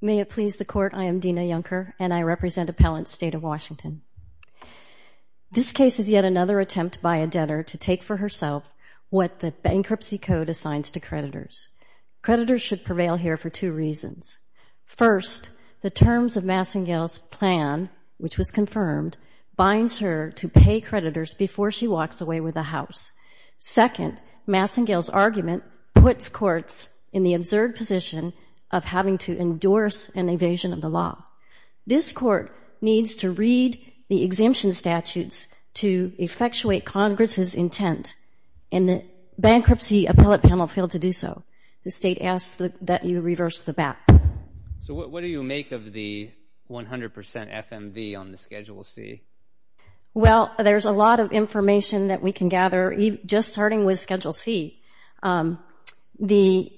May it please the Court, I am Dina Junker, and I represent Appellant State of Washington. This case is yet another attempt by a debtor to take for herself what the Bankruptcy Code assigns to creditors. Creditors should prevail here for two reasons. First, the terms of Masingale's plan, which was confirmed, binds her to pay creditors before she walks away with a house. Second, Masingale's argument puts courts in the absurd position of having to endorse an evasion of the law. This Court needs to read the exemption statutes to effectuate Congress' intent, and the Bankruptcy Appellate Panel failed to do so. The State asks that you reverse the bat. So what do you make of the 100% FMV on the Schedule C? Well, there's a lot of information that we can gather, just starting with Schedule C. The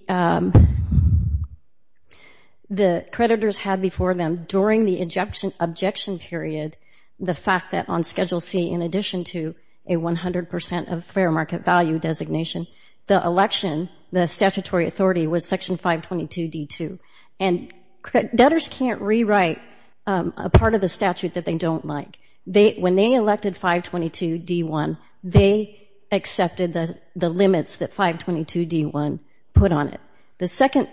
creditors had before them, during the objection period, the fact that on Schedule C, in addition to a 100% FMV designation, the election, the statutory authority was Section 522D2. And debtors can't rewrite a part of the statute that they don't like. When they elected 522D1, they accepted the limits that 522D1 put on it. The second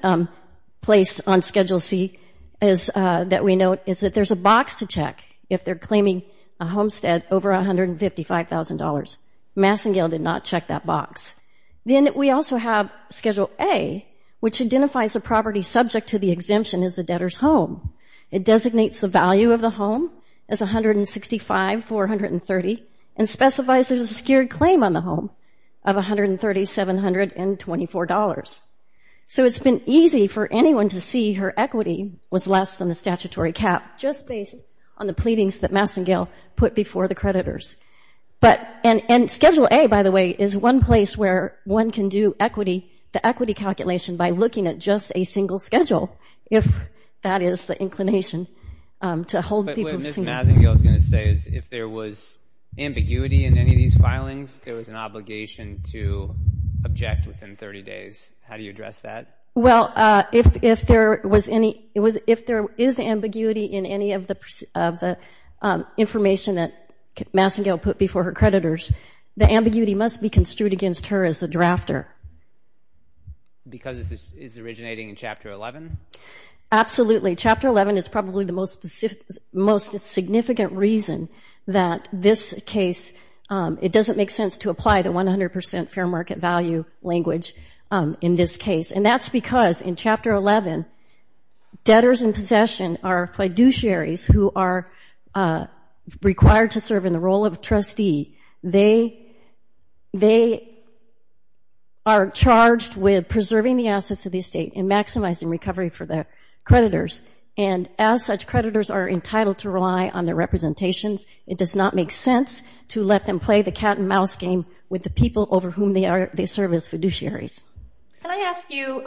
place on Schedule C that we note is that there's a box to check if they're claiming a homestead over $155,000. Masingale did not check that box. Then we also have Schedule A, which identifies a property subject to the exemption as a debtor's home. It designates the value of the home as $165,430 and specifies there's a secured claim on the home of $130,724. So it's been easy for anyone to see her equity was less than the statutory cap, just based on the pleadings that Masingale put before the creditors. And Schedule A, by the way, is one place where one can do the equity calculation by looking at just a single schedule, if that is the inclination to hold people to single. But what Ms. Masingale is going to say is if there was ambiguity in any of these filings, there was an obligation to object within 30 days of that. Well, if there is ambiguity in any of the information that Masingale put before her creditors, the ambiguity must be construed against her as a drafter. Because it's originating in Chapter 11? Absolutely. Chapter 11 is probably the most significant reason that this case, it doesn't make sense to apply the 100% fair market value language in this case. And that's because in Chapter 11, debtors in possession are fiduciaries who are required to serve in the role of a trustee. They are charged with preserving the assets of the estate and maximizing recovery for the creditors. And as such, creditors are entitled to rely on their representations. It does not make sense to let them play the cat and mouse game with the people over whom they serve as fiduciaries. Can I ask you,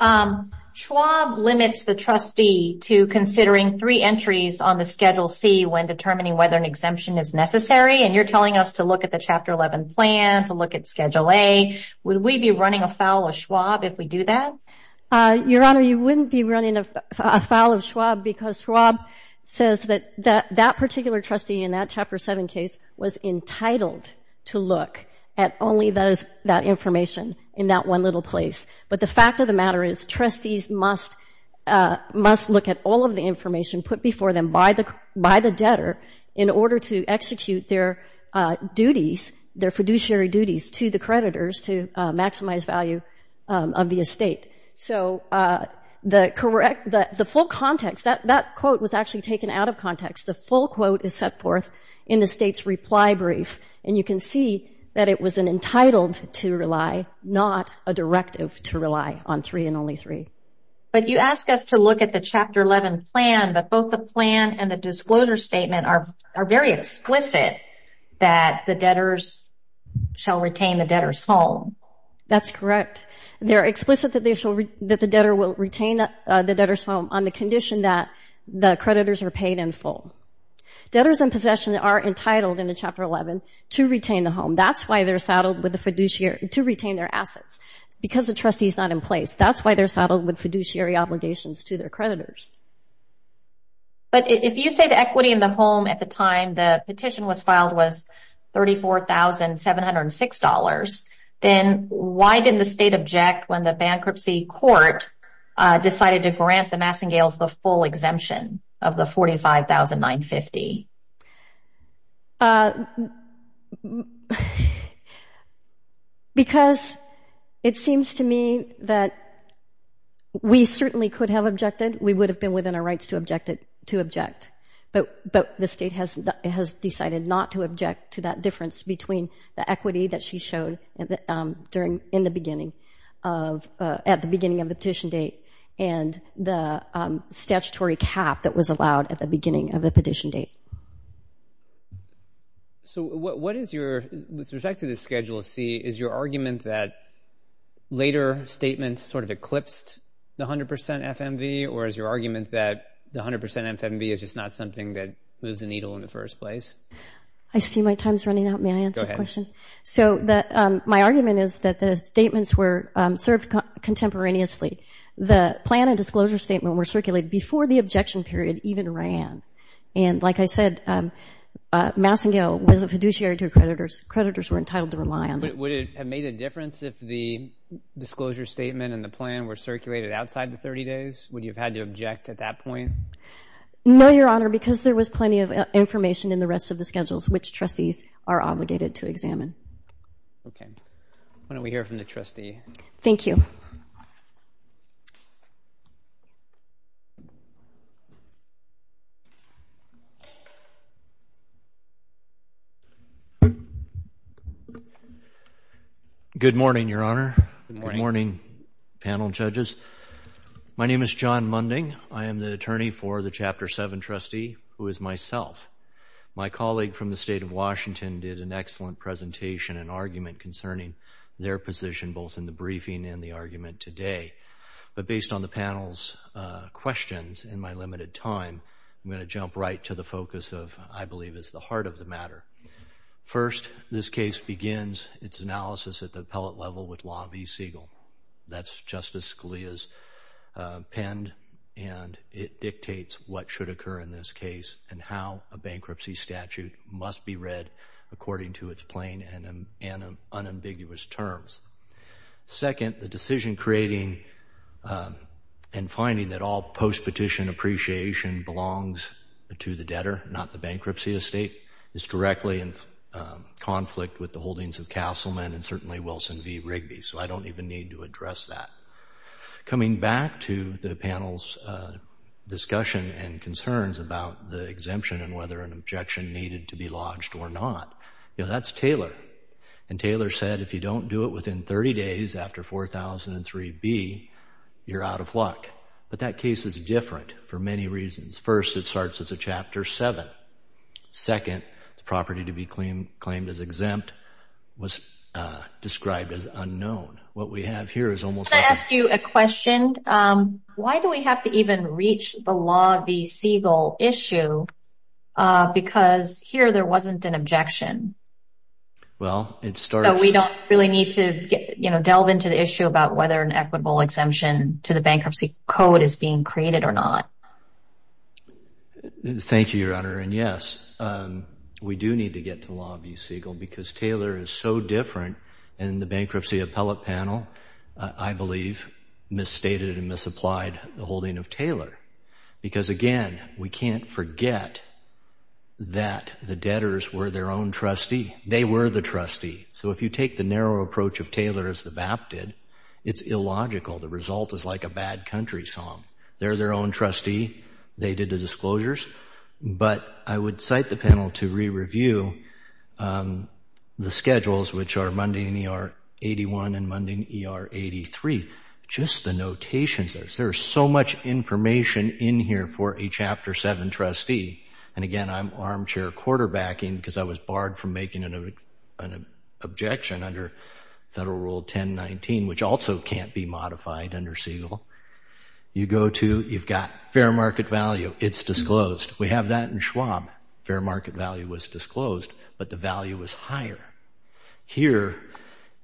Schwab limits the trustee to considering three entries on the Schedule C when determining whether an exemption is necessary. And you're telling us to look at the Chapter 11 plan, to look at Schedule A. Would we be running afoul of Schwab if we do that? Your Honor, you wouldn't be running afoul of Schwab because Schwab says that that particular trustee in that Chapter 7 case was entitled to look at only that information in that one little place. But the fact of the matter is, trustees must look at all of the information put before them by the debtor in order to execute their duties, their fiduciary duties to the creditors to maximize value of the estate. So the full context, that quote was actually taken out of context. The full quote is set forth in the State's reply brief. And you can see that it was an entitled to rely, not a directive to rely on three and only three. But you ask us to look at the Chapter 11 plan, but both the plan and the disclosure statement are very explicit that the debtors shall retain the debtor's home. That's correct. They're explicit that the debtor will retain the debtor's home on the condition that the creditors are paid in full. Debtors in possession are entitled in the Chapter 11 to retain the home. That's why they're saddled with the fiduciary, to retain their assets. Because the trustee is not in place, that's why they're saddled with fiduciary obligations to their creditors. But if you say the equity in the home at the time the petition was filed was $34,706, then why didn't the State object when the petition was filed at 950? Because it seems to me that we certainly could have objected. We would have been within our rights to object. But the State has decided not to object to that difference between the equity that she showed at the beginning of the petition date and the statutory cap that was allowed at the beginning of the petition date. With respect to the Schedule C, is your argument that later statements sort of eclipsed the 100% FMV, or is your argument that the 100% FMV is just not something that moves the needle in the first place? I see my time's running out. May I answer the question? So my argument is that the statements were served contemporaneously. The plan and disclosure statement were circulated before the objection period even ran. And like I said, Massengill was a fiduciary to her creditors. Creditors were entitled to rely on them. But would it have made a difference if the disclosure statement and the plan were circulated outside the 30 days? Would you have had to object at that point? No, Your Honor, because there was plenty of information in the rest of the schedules which trustees are obligated to examine. Okay. Why don't we hear from the trustee? Good morning, Your Honor. Good morning, panel judges. My name is John Munding. I am the attorney for the Chapter 7 trustee, who is myself. My colleague from the State of Washington did an excellent presentation and argument concerning their position both in the briefing and the argument today. But based on the panel's questions in my limited time, I'm going to jump right to the focus of, I believe it's the heart of the matter. First, this case begins its analysis at the appellate level with Law v. Siegel. That's Justice Scalia's append, and it dictates what should occur in this case and how a bankruptcy statute must be read according to its plain and unambiguous terms. Second, the decision creating and finding that all post-petition appreciation belongs to the debtor, not the bankruptcy estate, is directly in conflict with the holdings of Castleman and certainly Wilson v. Rigby. So I don't even need to address that. Coming back to the panel's discussion and concerns about the exemption and whether an objection needed to be lodged or not, you know, that's Taylor. And Taylor said, if you don't do it within 30 days after 4003B, you're out of luck. But that case is different for many reasons. First, it starts at Chapter 7. Second, the property to be claimed as exempt was described as unlawful. And third, the bankruptcy statute is not a lawful exemption. So what we have here is almost... Can I ask you a question? Why do we have to even reach the Law v. Siegel issue because here there wasn't an objection? Well, it starts... So we don't really need to delve into the issue about whether an equitable exemption to the bankruptcy code is being created or not? Thank you, Your Honor. And yes, we do need to get to the point where I believe misstated and misapplied the holding of Taylor. Because again, we can't forget that the debtors were their own trustee. They were the trustee. So if you take the narrow approach of Taylor as the BAP did, it's illogical. The result is like a bad country song. They're their own trustee. They did the disclosures. But I would cite the panel to re-review the schedules, which are 81 and Mundane ER 83. Just the notations. There's so much information in here for a Chapter 7 trustee. And again, I'm armchair quarterbacking because I was barred from making an objection under Federal Rule 1019, which also can't be modified under Siegel. You go to... You've got fair market value. It's disclosed. We have that in Schwab. Fair market value was disclosed, but the value was higher. Here,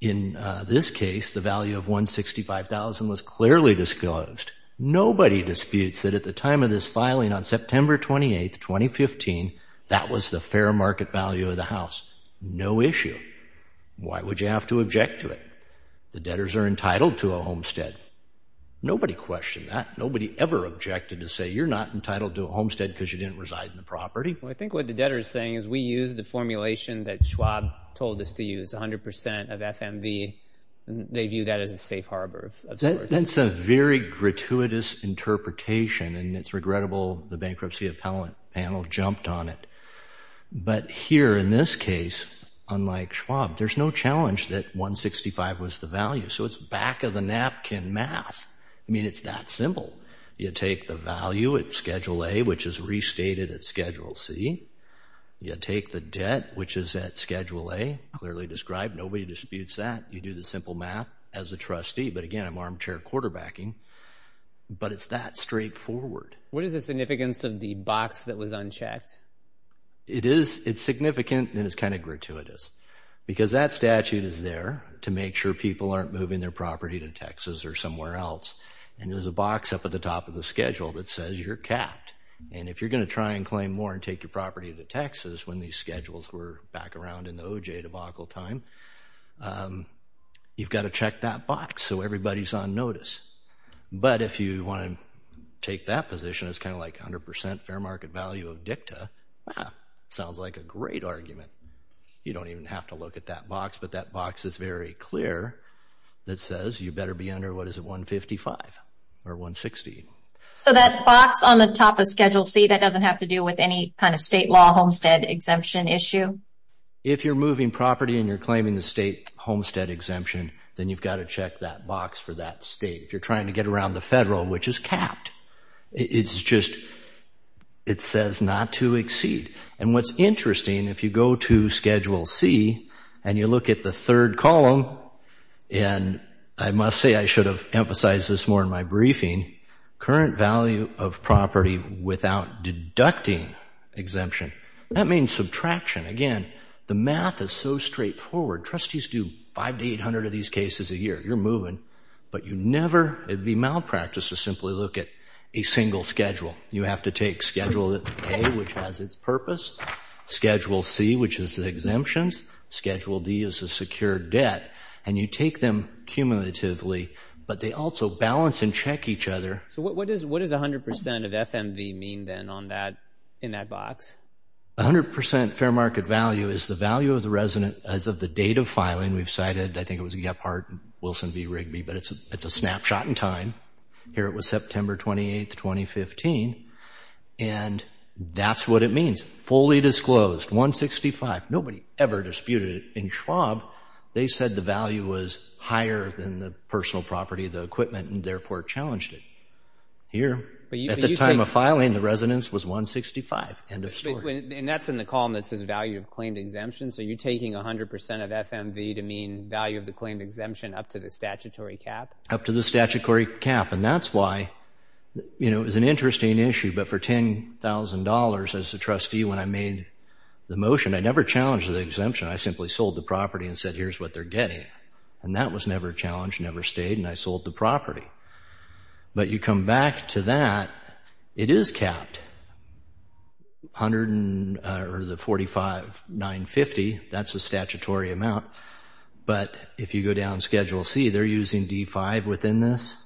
in this case, the value of $165,000 was clearly disclosed. Nobody disputes that at the time of this filing on September 28, 2015, that was the fair market value of the house. No issue. Why would you have to object to it? The debtors are entitled to a homestead. Nobody questioned that. Nobody ever objected to say, you're not entitled to a homestead because you didn't reside in the property. I think what the debtor is saying is we used the formulation that Schwab told us to use, 100% of FMV. They view that as a safe harbor. That's a very gratuitous interpretation, and it's regrettable the bankruptcy panel jumped on it. But here, in this case, unlike Schwab, there's no challenge that $165,000 was the value. So it's back of the napkin math. I mean, it's that simple. You take the value at Schedule A, which is restated at Schedule C. You take the debt, which is at Schedule A, clearly described. Nobody disputes that. You do the simple math as a trustee. But again, I'm armchair quarterbacking. But it's that straightforward. What is the significance of the box that was unchecked? It's significant, and it's kind of gratuitous, because that statute is there to make sure people aren't moving their property to Texas or somewhere else. And there's a box up at the top of the schedule that says you're capped. And if you're going to try and claim more and take your property to Texas when these schedules were back around in the OJ debacle time, you've got to check that box so everybody's on notice. But if you want to take that position as kind of like 100% fair market value of dicta, sounds like a great argument. You don't even have to look at that box, but that box is very clear. It says you better be under, what is it, 155 or 160. So that box on the top of Schedule C, that doesn't have to do with any kind of state law homestead exemption issue? If you're moving property and you're claiming the state homestead exemption, then you've got to check that box for that state. If you're trying to get around the federal, which is capped, it's just, it says not to exceed. And what's interesting, if you go to look at the third column, and I must say I should have emphasized this more in my briefing, current value of property without deducting exemption, that means subtraction. Again, the math is so straightforward. Trustees do 500 to 800 of these cases a year. You're moving, but you never, it would be malpractice to simply look at a single schedule. You have to take Schedule A, which has its purpose, Schedule C, which is the exemptions, Schedule D is the secured debt, and you take them cumulatively, but they also balance and check each other. So what does 100% of FMV mean then on that, in that box? 100% fair market value is the value of the resident as of the date of filing. We've cited, I think it was Gephardt, Wilson v. Rigby, but it's a snapshot in time. Here it was September 28, 2015, and that's what it means. Fully disclosed, 165. Nobody ever disputed it. In Schwab, they said the value was higher than the personal property, the equipment, and therefore challenged it. Here, at the time of filing, the residence was 165, end of story. And that's in the column that says value of claimed exemption, so you're taking 100% of FMV to mean value of the claimed exemption up to the statutory cap? Up to the statutory cap, and that's why, you know, it's an interesting issue, but for $10,000, as the trustee said, that's a trustee. When I made the motion, I never challenged the exemption. I simply sold the property and said, here's what they're getting. And that was never challenged, never stayed, and I sold the property. But you come back to that, it is capped. 145,950, that's the statutory amount, but if you go down Schedule C, they're using D-5 within this.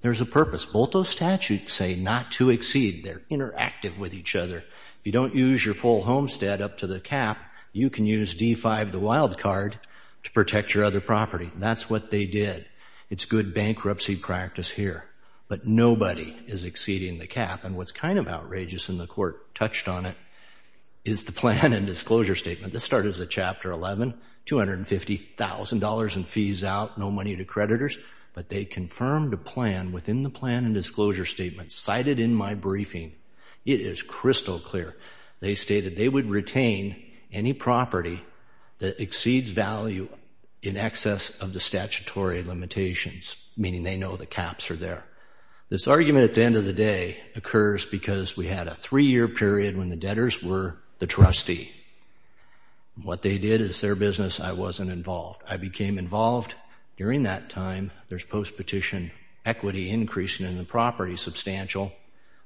There's a purpose. Both those statutes say not to exceed. They're interactive with each other. If you don't use your full homestead up to the cap, you can use D-5, the wild card, to protect your other property, and that's what they did. It's good bankruptcy practice here, but nobody is exceeding the cap, and what's kind of outrageous, and the Court touched on it, is the plan and disclosure statement. This started as a Chapter 11, $250,000 in fees out, no money to creditors, but they confirmed a plan within the plan and disclosure statement, cited in my briefing. It is crystal clear. They stated they would retain any property that exceeds value in excess of the statutory limitations, meaning they know the caps are there. This argument at the end of the day occurs because we had a three-year period when the debtors were the trustee. What they did is their business, I wasn't involved. I became involved. During that time, there's post-petition equity increasing in the property substantial.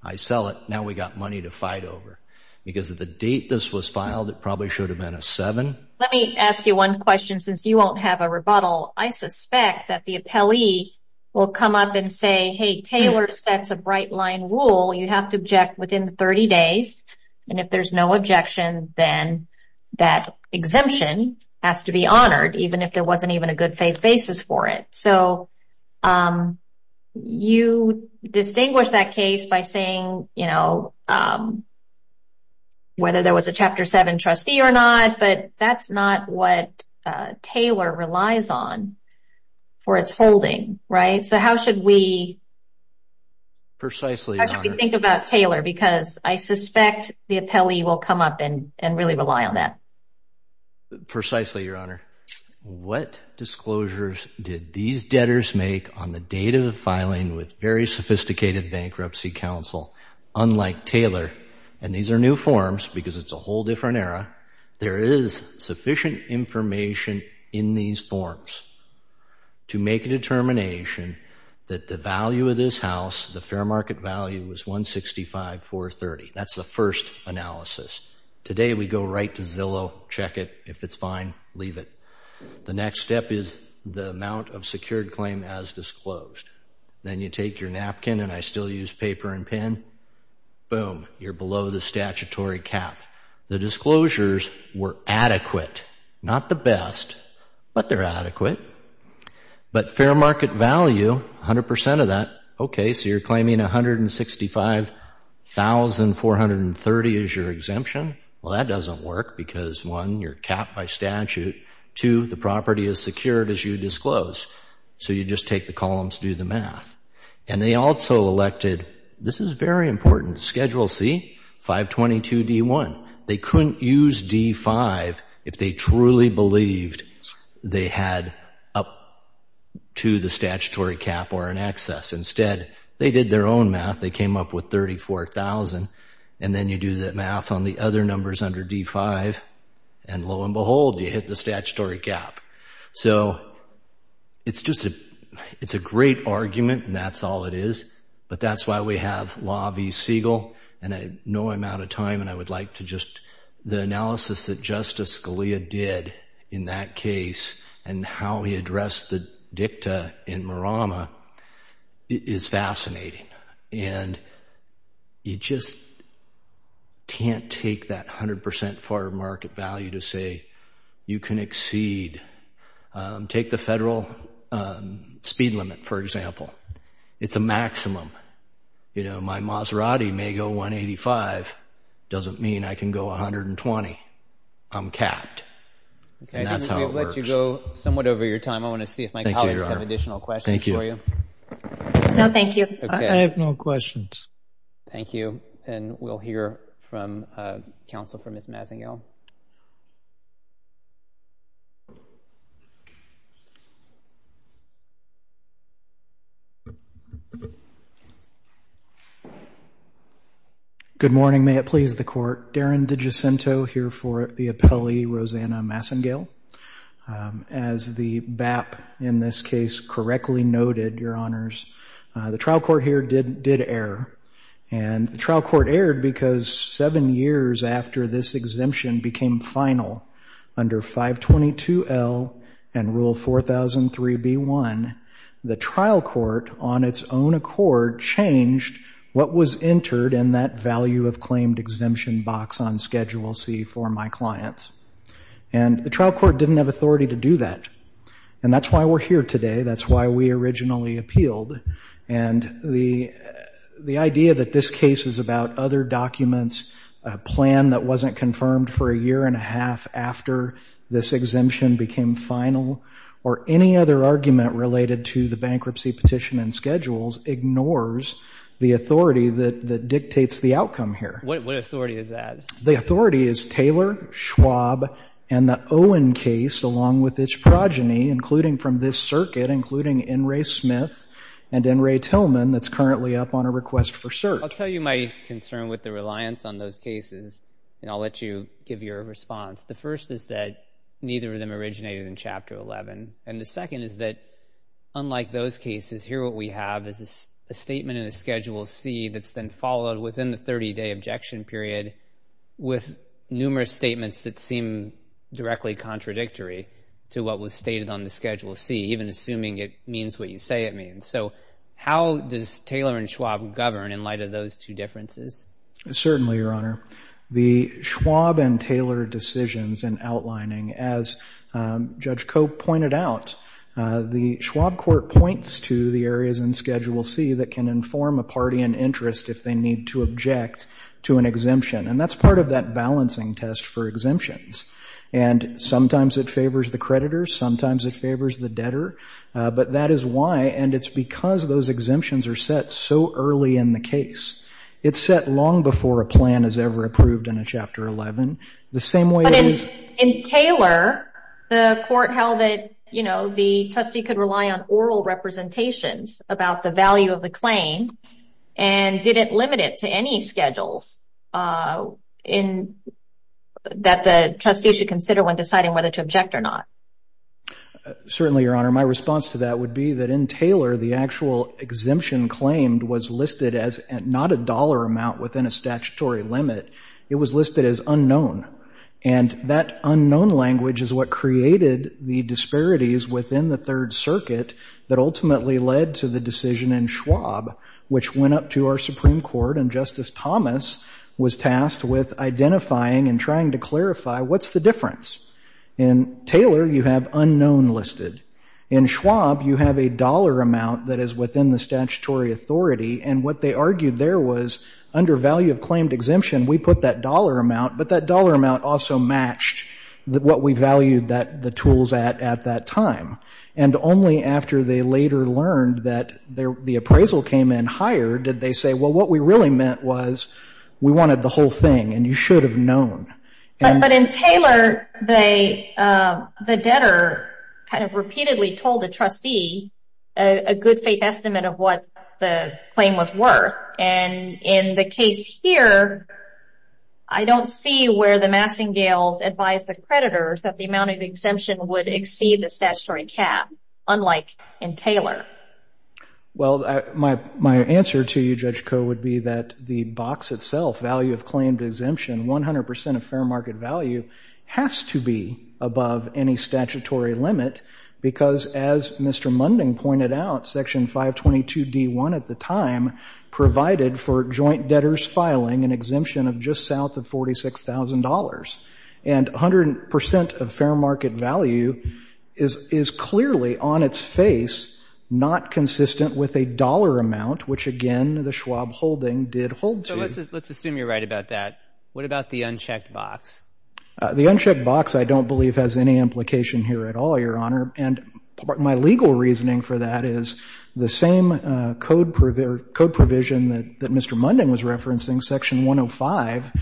I sell it. Now we've got money to fight over. Because of the date this was filed, it probably should have been a seven. Let me ask you one question, since you won't have a rebuttal. I suspect that the appellee will come up and say, hey, Taylor sets a bright-line rule. You have to object within 30 days, and if there's no objection, then that exemption has to be honored, even if there wasn't even a good faith basis for it. You distinguish that case by saying whether there was a Chapter 7 trustee or not, but that's not what Taylor relies on for its holding. How should we think about Taylor? I suspect the appellee will come up and really rely on that. Precisely, Your Honor. What disclosures did these debtors make on the date of the filing with very sophisticated bankruptcy counsel? Unlike Taylor, and these are new forms because it's a whole different era, there is sufficient information in these forms to make a determination that the value of this house, the fair market value, was $165,430. That's the first analysis. Today, we go right to Zillow, check it. If it's fine, leave it. The next step is the amount of secured claim as disclosed. Then you take your napkin, and I still use paper and pen, boom, you're below the statutory cap. The disclosures were adequate. Not the best, but they're adequate. But fair market value, 100% of that, okay, so you're claiming $165,430. Here's your exemption. Well, that doesn't work because, one, you're capped by statute. Two, the property is secured as you disclose. So you just take the columns, do the math. And they also elected, this is very important, Schedule C, 522D1. They couldn't use D5 if they truly believed they had up to the statutory cap or in excess. Instead, they did their own math. They did their own math, and then you do that math on the other numbers under D5, and lo and behold, you hit the statutory cap. So it's just a great argument, and that's all it is. But that's why we have Law v. Siegel, and I know I'm out of time, and I would like to just, the analysis that Justice Scalia did in that case and how he addressed the dicta in Marama is fascinating. And you just can't take that 100% fair market value to say you can exceed, take the federal speed limit, for example. It's a maximum. My Maserati may go 185, doesn't mean I can go 120. I'm capped. And that's how it works. Thank you. I'm going to go somewhat over your time. I want to see if my colleagues have additional questions for you. No, thank you. I have no questions. Thank you. And we'll hear from counsel for Ms. Massengill. Good morning. May it please the Court. Darren DiGiacinto here for the appellee, Rosanna Massengill. As the BAP in this case correctly noted, Your Honors, the trial court here did err. And the trial court erred because seven years after this exemption became final under 522L and Rule 4003B1, the trial court on its own accord changed what was entered in that value of claimed exemption box on Schedule C for my clients. And the trial court didn't have authority to do that. And that's why we're here today. That's why we originally appealed. And the idea that this case is about other documents, a plan that wasn't confirmed for a year and a half after this exemption became final or any other argument related to the bankruptcy petition and schedules ignores the authority that dictates the outcome here. What authority is that? The authority is Taylor, Schwab, and the Owen case along with its progeny, including from this circuit, including N. Ray Smith and N. Ray Tillman that's currently up on a schedule C. And I'll let you give your response. The first is that neither of them originated in Chapter 11. And the second is that unlike those cases, here what we have is a statement in the Schedule C that's been followed within the 30-day objection period with numerous statements that seem directly contradictory to what was stated on the Schedule C, even assuming it means what you say it means. So how does Taylor and Schwab govern in light of those two differences? Certainly, Your Honor. The Schwab case is based on Schwab and Taylor decisions and outlining. As Judge Cope pointed out, the Schwab court points to the areas in Schedule C that can inform a party in interest if they need to object to an exemption. And that's part of that balancing test for exemptions. And sometimes it favors the creditor. Sometimes it favors the debtor. But that is why, and it's because those exemptions are set so that they can be used in the case of Chapter 11. But in Taylor, the court held that the trustee could rely on oral representations about the value of the claim. And did it limit it to any schedules that the trustee should consider when deciding whether to object or not? Certainly, Your Honor. My response to that would be that in Taylor, the actual exemption claimed was listed as not a dollar amount within a statutory limit. It was listed as unknown. And that unknown language is what created the disparities within the Third Circuit that ultimately led to the decision in Schwab, which went up to our Supreme Court. And Justice Thomas was tasked with identifying and trying to clarify what's the difference. In Taylor, you have unknown listed. In Schwab, you have a dollar amount that is within the statutory authority. And what they argued there was under value of claimed exemption, we put that dollar amount, but that dollar amount also matched what we valued the tools at at that time. And only after they later learned that the appraisal came in higher, did they say, well, what we really meant was we wanted the whole thing and you should have known. But in Taylor, the debtor kind of took the estimate of what the claim was worth. And in the case here, I don't see where the Massingales advised the creditors that the amount of exemption would exceed the statutory cap, unlike in Taylor. Well, my answer to you, Judge Koh, would be that the box itself, value of claimed exemption, 100% of fair market value, has to be above any statutory limit because as Mr. Munding pointed out, Section 522D1 at the time provided for joint debtors filing an exemption of just south of $46,000. And 100% of fair market value is clearly on its face not consistent with a dollar amount, which again, the Schwab holding did hold to. So let's assume you're right about that. What about the unchecked box? The unchecked box I don't believe has any implication here at all, Your Honor. And my legal reasoning for that is the same code provision that Mr. Munding was referencing, Section 105,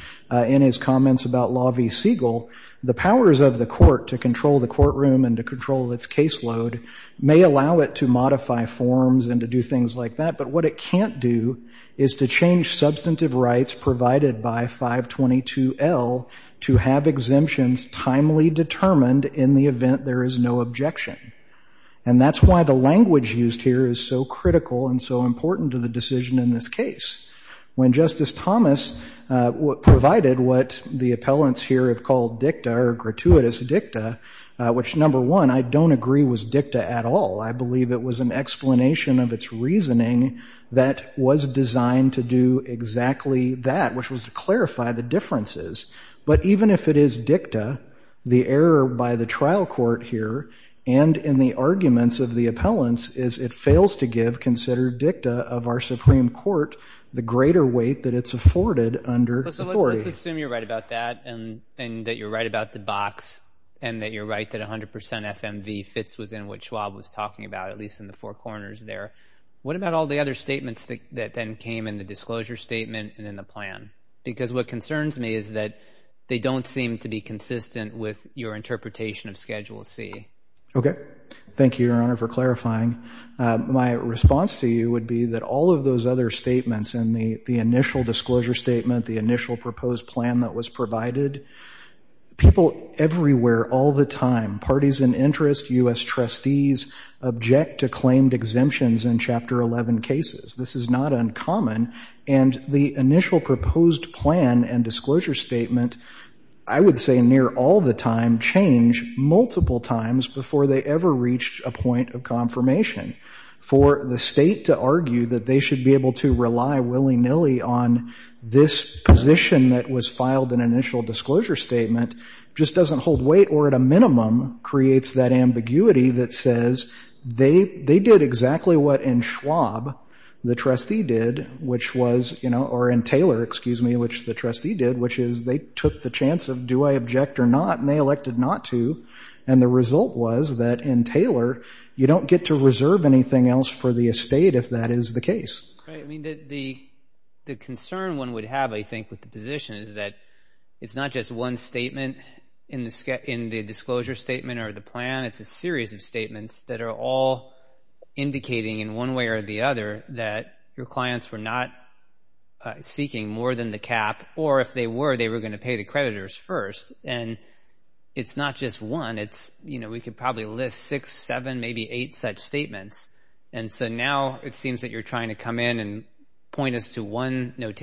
in his comments about Law v. Siegel, the powers of the court to control the courtroom and to control its caseload may allow it to modify forms and to do things like that. But what it can't do is to change substantive rights provided by 522L to have exemptions timely determined in the event there is no objection. And that's why the language used here is so critical and so important to the decision in this case. When Justice Thomas provided what the appellants here have called dicta or gratuitous dicta, which number one, I don't agree was dicta at all. I believe it was an explanation of its reasoning that was designed to do exactly that, which was to clarify the differences. But even if it is dicta, the error by the trial court here and in the arguments of the appellants is it fails to give considered dicta of our Supreme Court the greater weight that it's afforded under authority. So let's assume you're right about that and that you're right about the box and that you're right that 100% FMV fits within what Schwab was talking about, at least in the four corners there. What about all the other statements that then came in the disclosure statement and in the plan? Because what concerns me is that they don't seem to be consistent with your interpretation of Schedule C. Okay. Thank you, Your Honor, for clarifying. My response to you would be that all of those other statements in the initial disclosure statement, the initial proposed plan that was provided, people everywhere all the time, parties in interest, U.S. trustees, agencies, object to claimed exemptions in Chapter 11 cases. This is not uncommon. And the initial proposed plan and disclosure statement, I would say near all the time, changed multiple times before they ever reached a point of confirmation. For the state to argue that they should be able to rely willy-nilly on this position that was filed in initial disclosure statement just doesn't hold up. The fact that it says wait or at a minimum creates that ambiguity that says they did exactly what in Schwab the trustee did, which was, you know, or in Taylor, excuse me, which the trustee did, which is they took the chance of do I object or not and they elected not to. And the result was that in Taylor you don't get to reserve anything else for the estate if that is the case. Right. I mean, the concern one would have, I think, with the position is that it's not just one statement in the disclosure statement or the plan. It's a series of statements that are all indicating in one way or the other that your clients were not seeking more than the cap. Or if they were, they were going to pay the creditors first. And it's not just one. It's, you know, we could probably list six, seven, maybe eight such statements. And so now it seems that you're trying to come in and point us to one that's not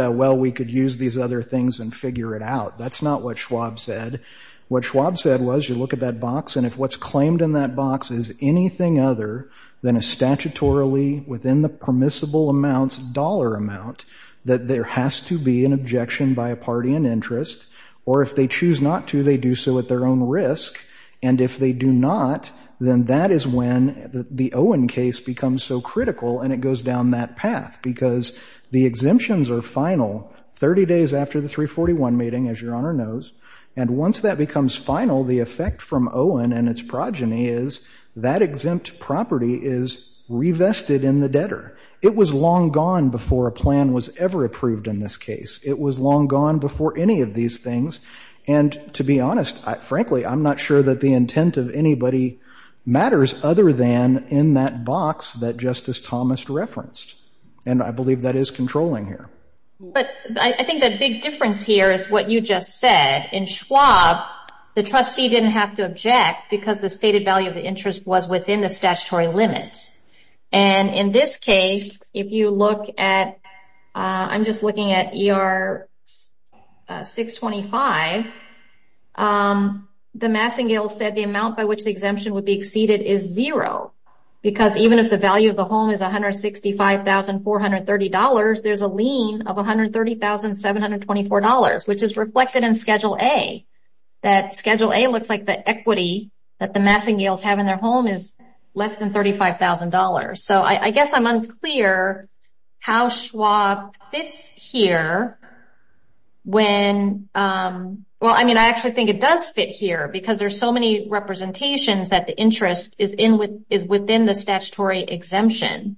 a, well, we could use these other things and figure it out. That's not what Schwab said. What Schwab said was you look at that box. And if what's claimed in that box is anything other than a statutorily, within the permissible amounts, dollar amount, that there has to be an objection by a party in interest. Or if they choose not to, they do so at their own risk. And if they choose not to, they do so at their own risk. And if they do not, then that is when the Owen case becomes so critical and it goes down that path. Because the exemptions are final 30 days after the 341 meeting, as your Honor knows. And once that becomes final, the effect from Owen and its progeny is that exempt property is revested in the debtor. It was long gone before a plan was ever approved in this case. It was long gone before a plan was ever approved in this case. So the intent of anybody matters other than in that box that Justice Thomas referenced. And I believe that is controlling here. But I think the big difference here is what you just said. In Schwab, the trustee didn't have to object because the stated value of the interest was within the statutory limits. And in this case, if you look at, I'm just looking at ER 625, the Massengill said the amount by which the exemption would be exceeded is zero. Because even if the value of the home is $165,430, there's a lien of $130,724, which is reflected in Schedule A. That Schedule A looks like the equity that the Massengills have in their home is less than $35,000. So I guess I'm unclear how Schwab fits here. Well, I mean, I actually think it does fit here because there's so many representations that the interest is within the statutory exemption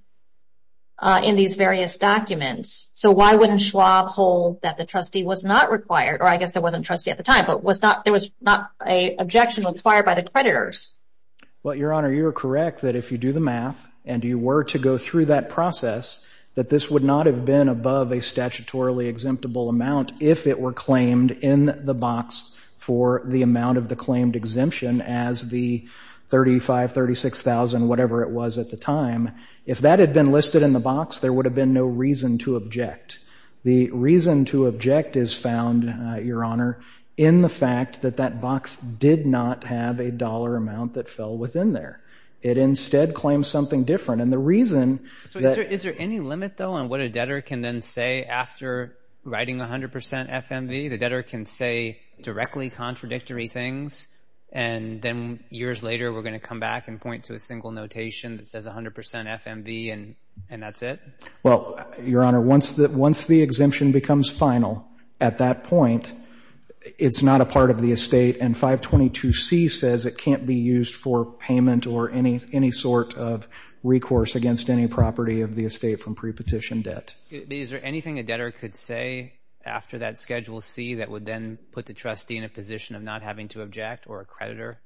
in these various documents. So why wouldn't Schwab hold that the trustee was not required? Or I guess there wasn't a trustee at the time, but there was not an objection required by the creditors. Well, Your Honor, you're correct that if you do the math and you were to go through that process, that this would not have been above a statutorily exemptible amount if it were claimed in the box for the amount of the claimed exemption as the $35,000, $36,000, whatever it was at the time. If that had been listed in the box, there would have been no reason to object. The reason to object is found, Your Honor, in the fact that that box did not have a dollar amount that fell within there. It instead claims something different. And the reason that... Is there any limit, though, on what a debtor can then say after writing 100% FMV? The debtor can say directly contradictory things, and then years later we're going to come back and point to a single notation that says 100% FMV and that's it? Well, Your Honor, once the exemption becomes final at that point, it's not a part of the estate and 522C says it can't be used for payment or any sort of recourse against any property of the estate from prepetition debt. Is there anything a debtor could say after that Schedule C that would then put the trustee in a position of not having to object or a creditor?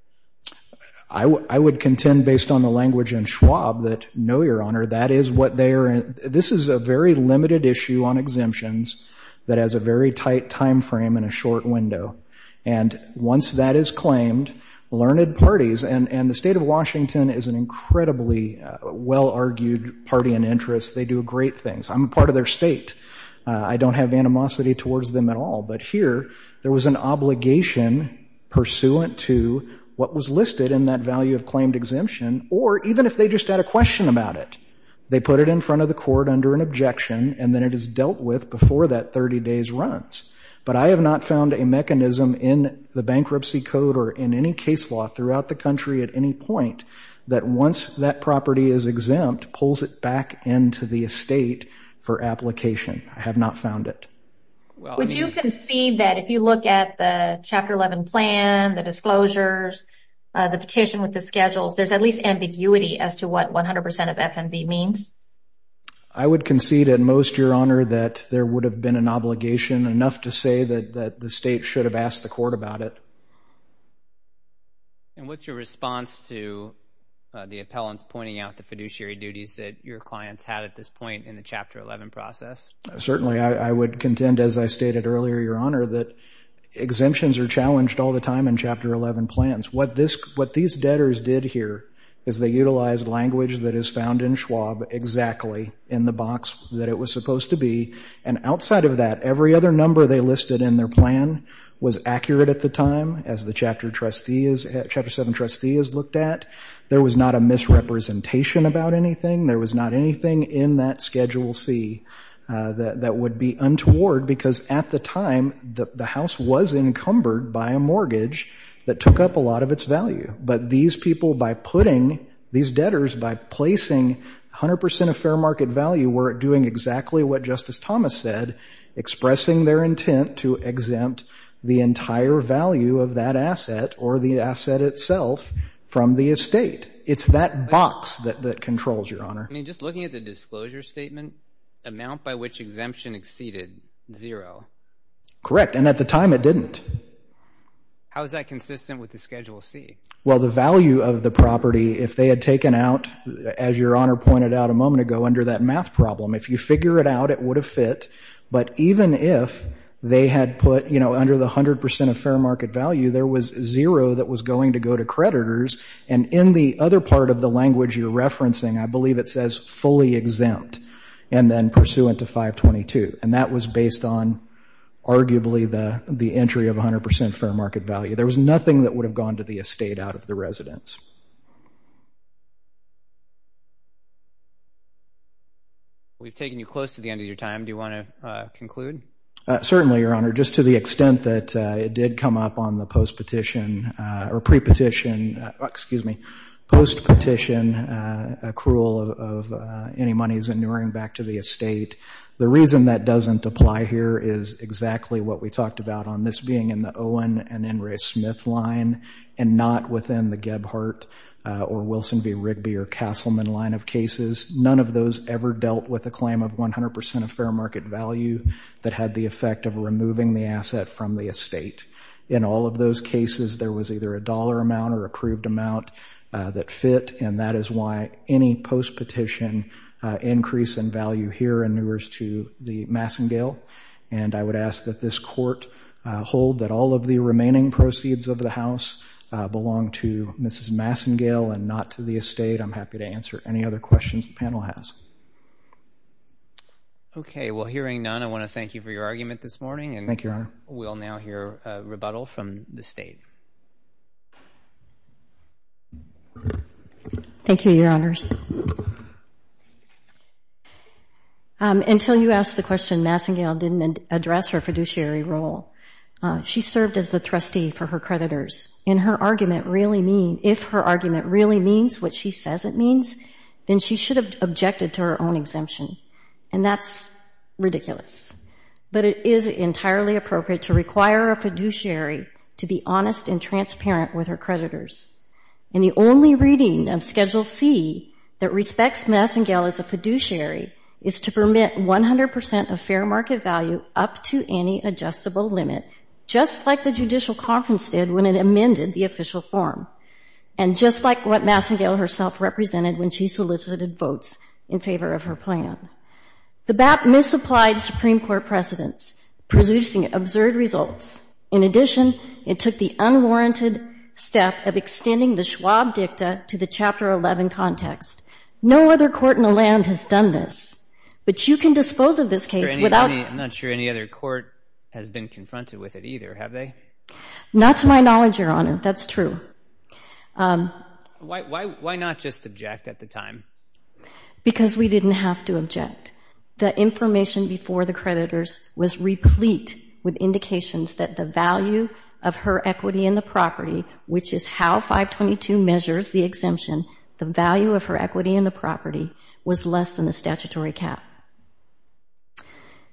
I would contend based on the language in the statute that this is a very limited issue on exemptions that has a very tight time frame and a short window. And once that is claimed, learned parties, and the state of Washington is an incredibly well-argued party in interest. They do great things. I'm a part of their state. I don't have animosity towards them at all. But here, there was an obligation pursuant to what was listed in that value of claimed exemption or even if they just had a question about it. They put it in front of the court under an objection and then it is dealt with before that 30 days runs. But I have not found a mechanism in the bankruptcy code or in any case law throughout the country at any point that once that property is exempt pulls it back into the estate for application. I have not found it. Would you concede that if you look at the Chapter 11 plan, the disclosures, the petition with the schedules, there is at least ambiguity as to what 100% of FMV means? I would concede at most, Your Honor, that there would have been an obligation enough to say that the state should have asked the court about it. And what is your response to the appellants pointing out the fiduciary duties that your clients had at this point in the Chapter 11 process? Certainly, I would contend as I stated earlier, Your Honor, that exemptions are challenged all the time in Chapter 11 plans. What these debtors did here is they utilized language that is found in Schwab exactly in the box that it was supposed to be. And outside of that, every other number they listed in their plan was accurate at the time as the Chapter 7 plan, which is the one that the trustee has looked at. There was not a misrepresentation about anything. There was not anything in that Schedule C that would be untoward because at the time the house was encumbered by a mortgage that took up a lot of its value. But these people by putting, these debtors by placing 100% of fair market value were doing exactly what Justice Thomas said, expressing their self from the estate. It's that box that controls, Your Honor. I mean, just looking at the disclosure statement, amount by which exemption exceeded zero. Correct. And at the time it didn't. How is that consistent with the Schedule C? Well, the value of the property, if they had taken out, as Your Honor pointed out a moment ago, under that math problem, if you figure it out, it would have fit. But even if they had put, you know, under the 100% of fair market value, there was zero that was going to go to credit for the debtors. And in the other part of the language you're referencing, I believe it says fully exempt and then pursuant to 522. And that was based on arguably the entry of 100% fair market value. There was nothing that would have gone to the estate out of the residence. We've taken you close to the end of your time. Do you want to conclude? Certainly, Your Honor. Just to the extent that it was a pre-petition, excuse me, post-petition accrual of any monies inuring back to the estate, the reason that doesn't apply here is exactly what we talked about on this being in the Owen and Ingray-Smith line and not within the Gebhardt or Wilson v. Rigby or Castleman line of cases. None of those ever dealt with a claim of 100% of fair market value that had the effect of a dollar amount or accrued amount that fit. And that is why any post-petition increase in value here inures to the Massengale. And I would ask that this Court hold that all of the remaining proceeds of the House belong to Mrs. Massengale and not to the estate. I'm happy to answer any other questions the panel has. Okay. Well, hearing none, I want to thank you for your argument this morning. Thank you, Your Honor. And we'll now hear a rebuttal from the State. Thank you, Your Honors. Until you asked the question, Massengale didn't address her fiduciary role. She served as the trustee for her creditors. And her argument really means, if her argument really means what she says it means, then she should have objected to her own exemption. And that's ridiculous. But it is entirely appropriate to require a fiduciary to be honest and transparent with her creditors. And the only reading of Schedule C that respects Massengale as a fiduciary is to permit 100% of fair market value up to any adjustable limit, just like the judicial conference did when it amended the official form. And just like what Massengale herself represented when she solicited votes in favor of her plan. The BAP misapplied Supreme Court precedents, producing absurd results. In addition, it took the unwarranted step of extending the Schwab Dicta to the Chapter 11 context. No other court in the land has done this. But you can dispose of this case without... I'm not sure any other court has been able to do that. Why not just object at the time? Because we didn't have to object. The information before the creditors was replete with indications that the value of her equity in the property, which is how 522 measures the exemption, the value of her equity in the property was less than the statutory cap.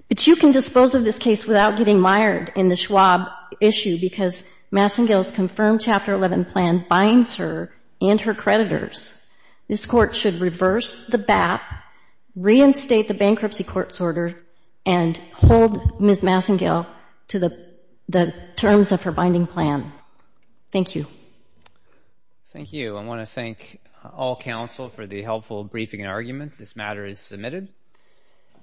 But you can dispose of this case without getting mired in the Schwab issue, because Massengale's confirmed Chapter 11 plan binds her and her creditors. This court should reverse the BAP, reinstate the bankruptcy court's order, and hold Ms. Massengale to the terms of her binding plan. Thank you. Thank you. I want to thank all counsel for the helpful briefing and argument. This matter is submitted.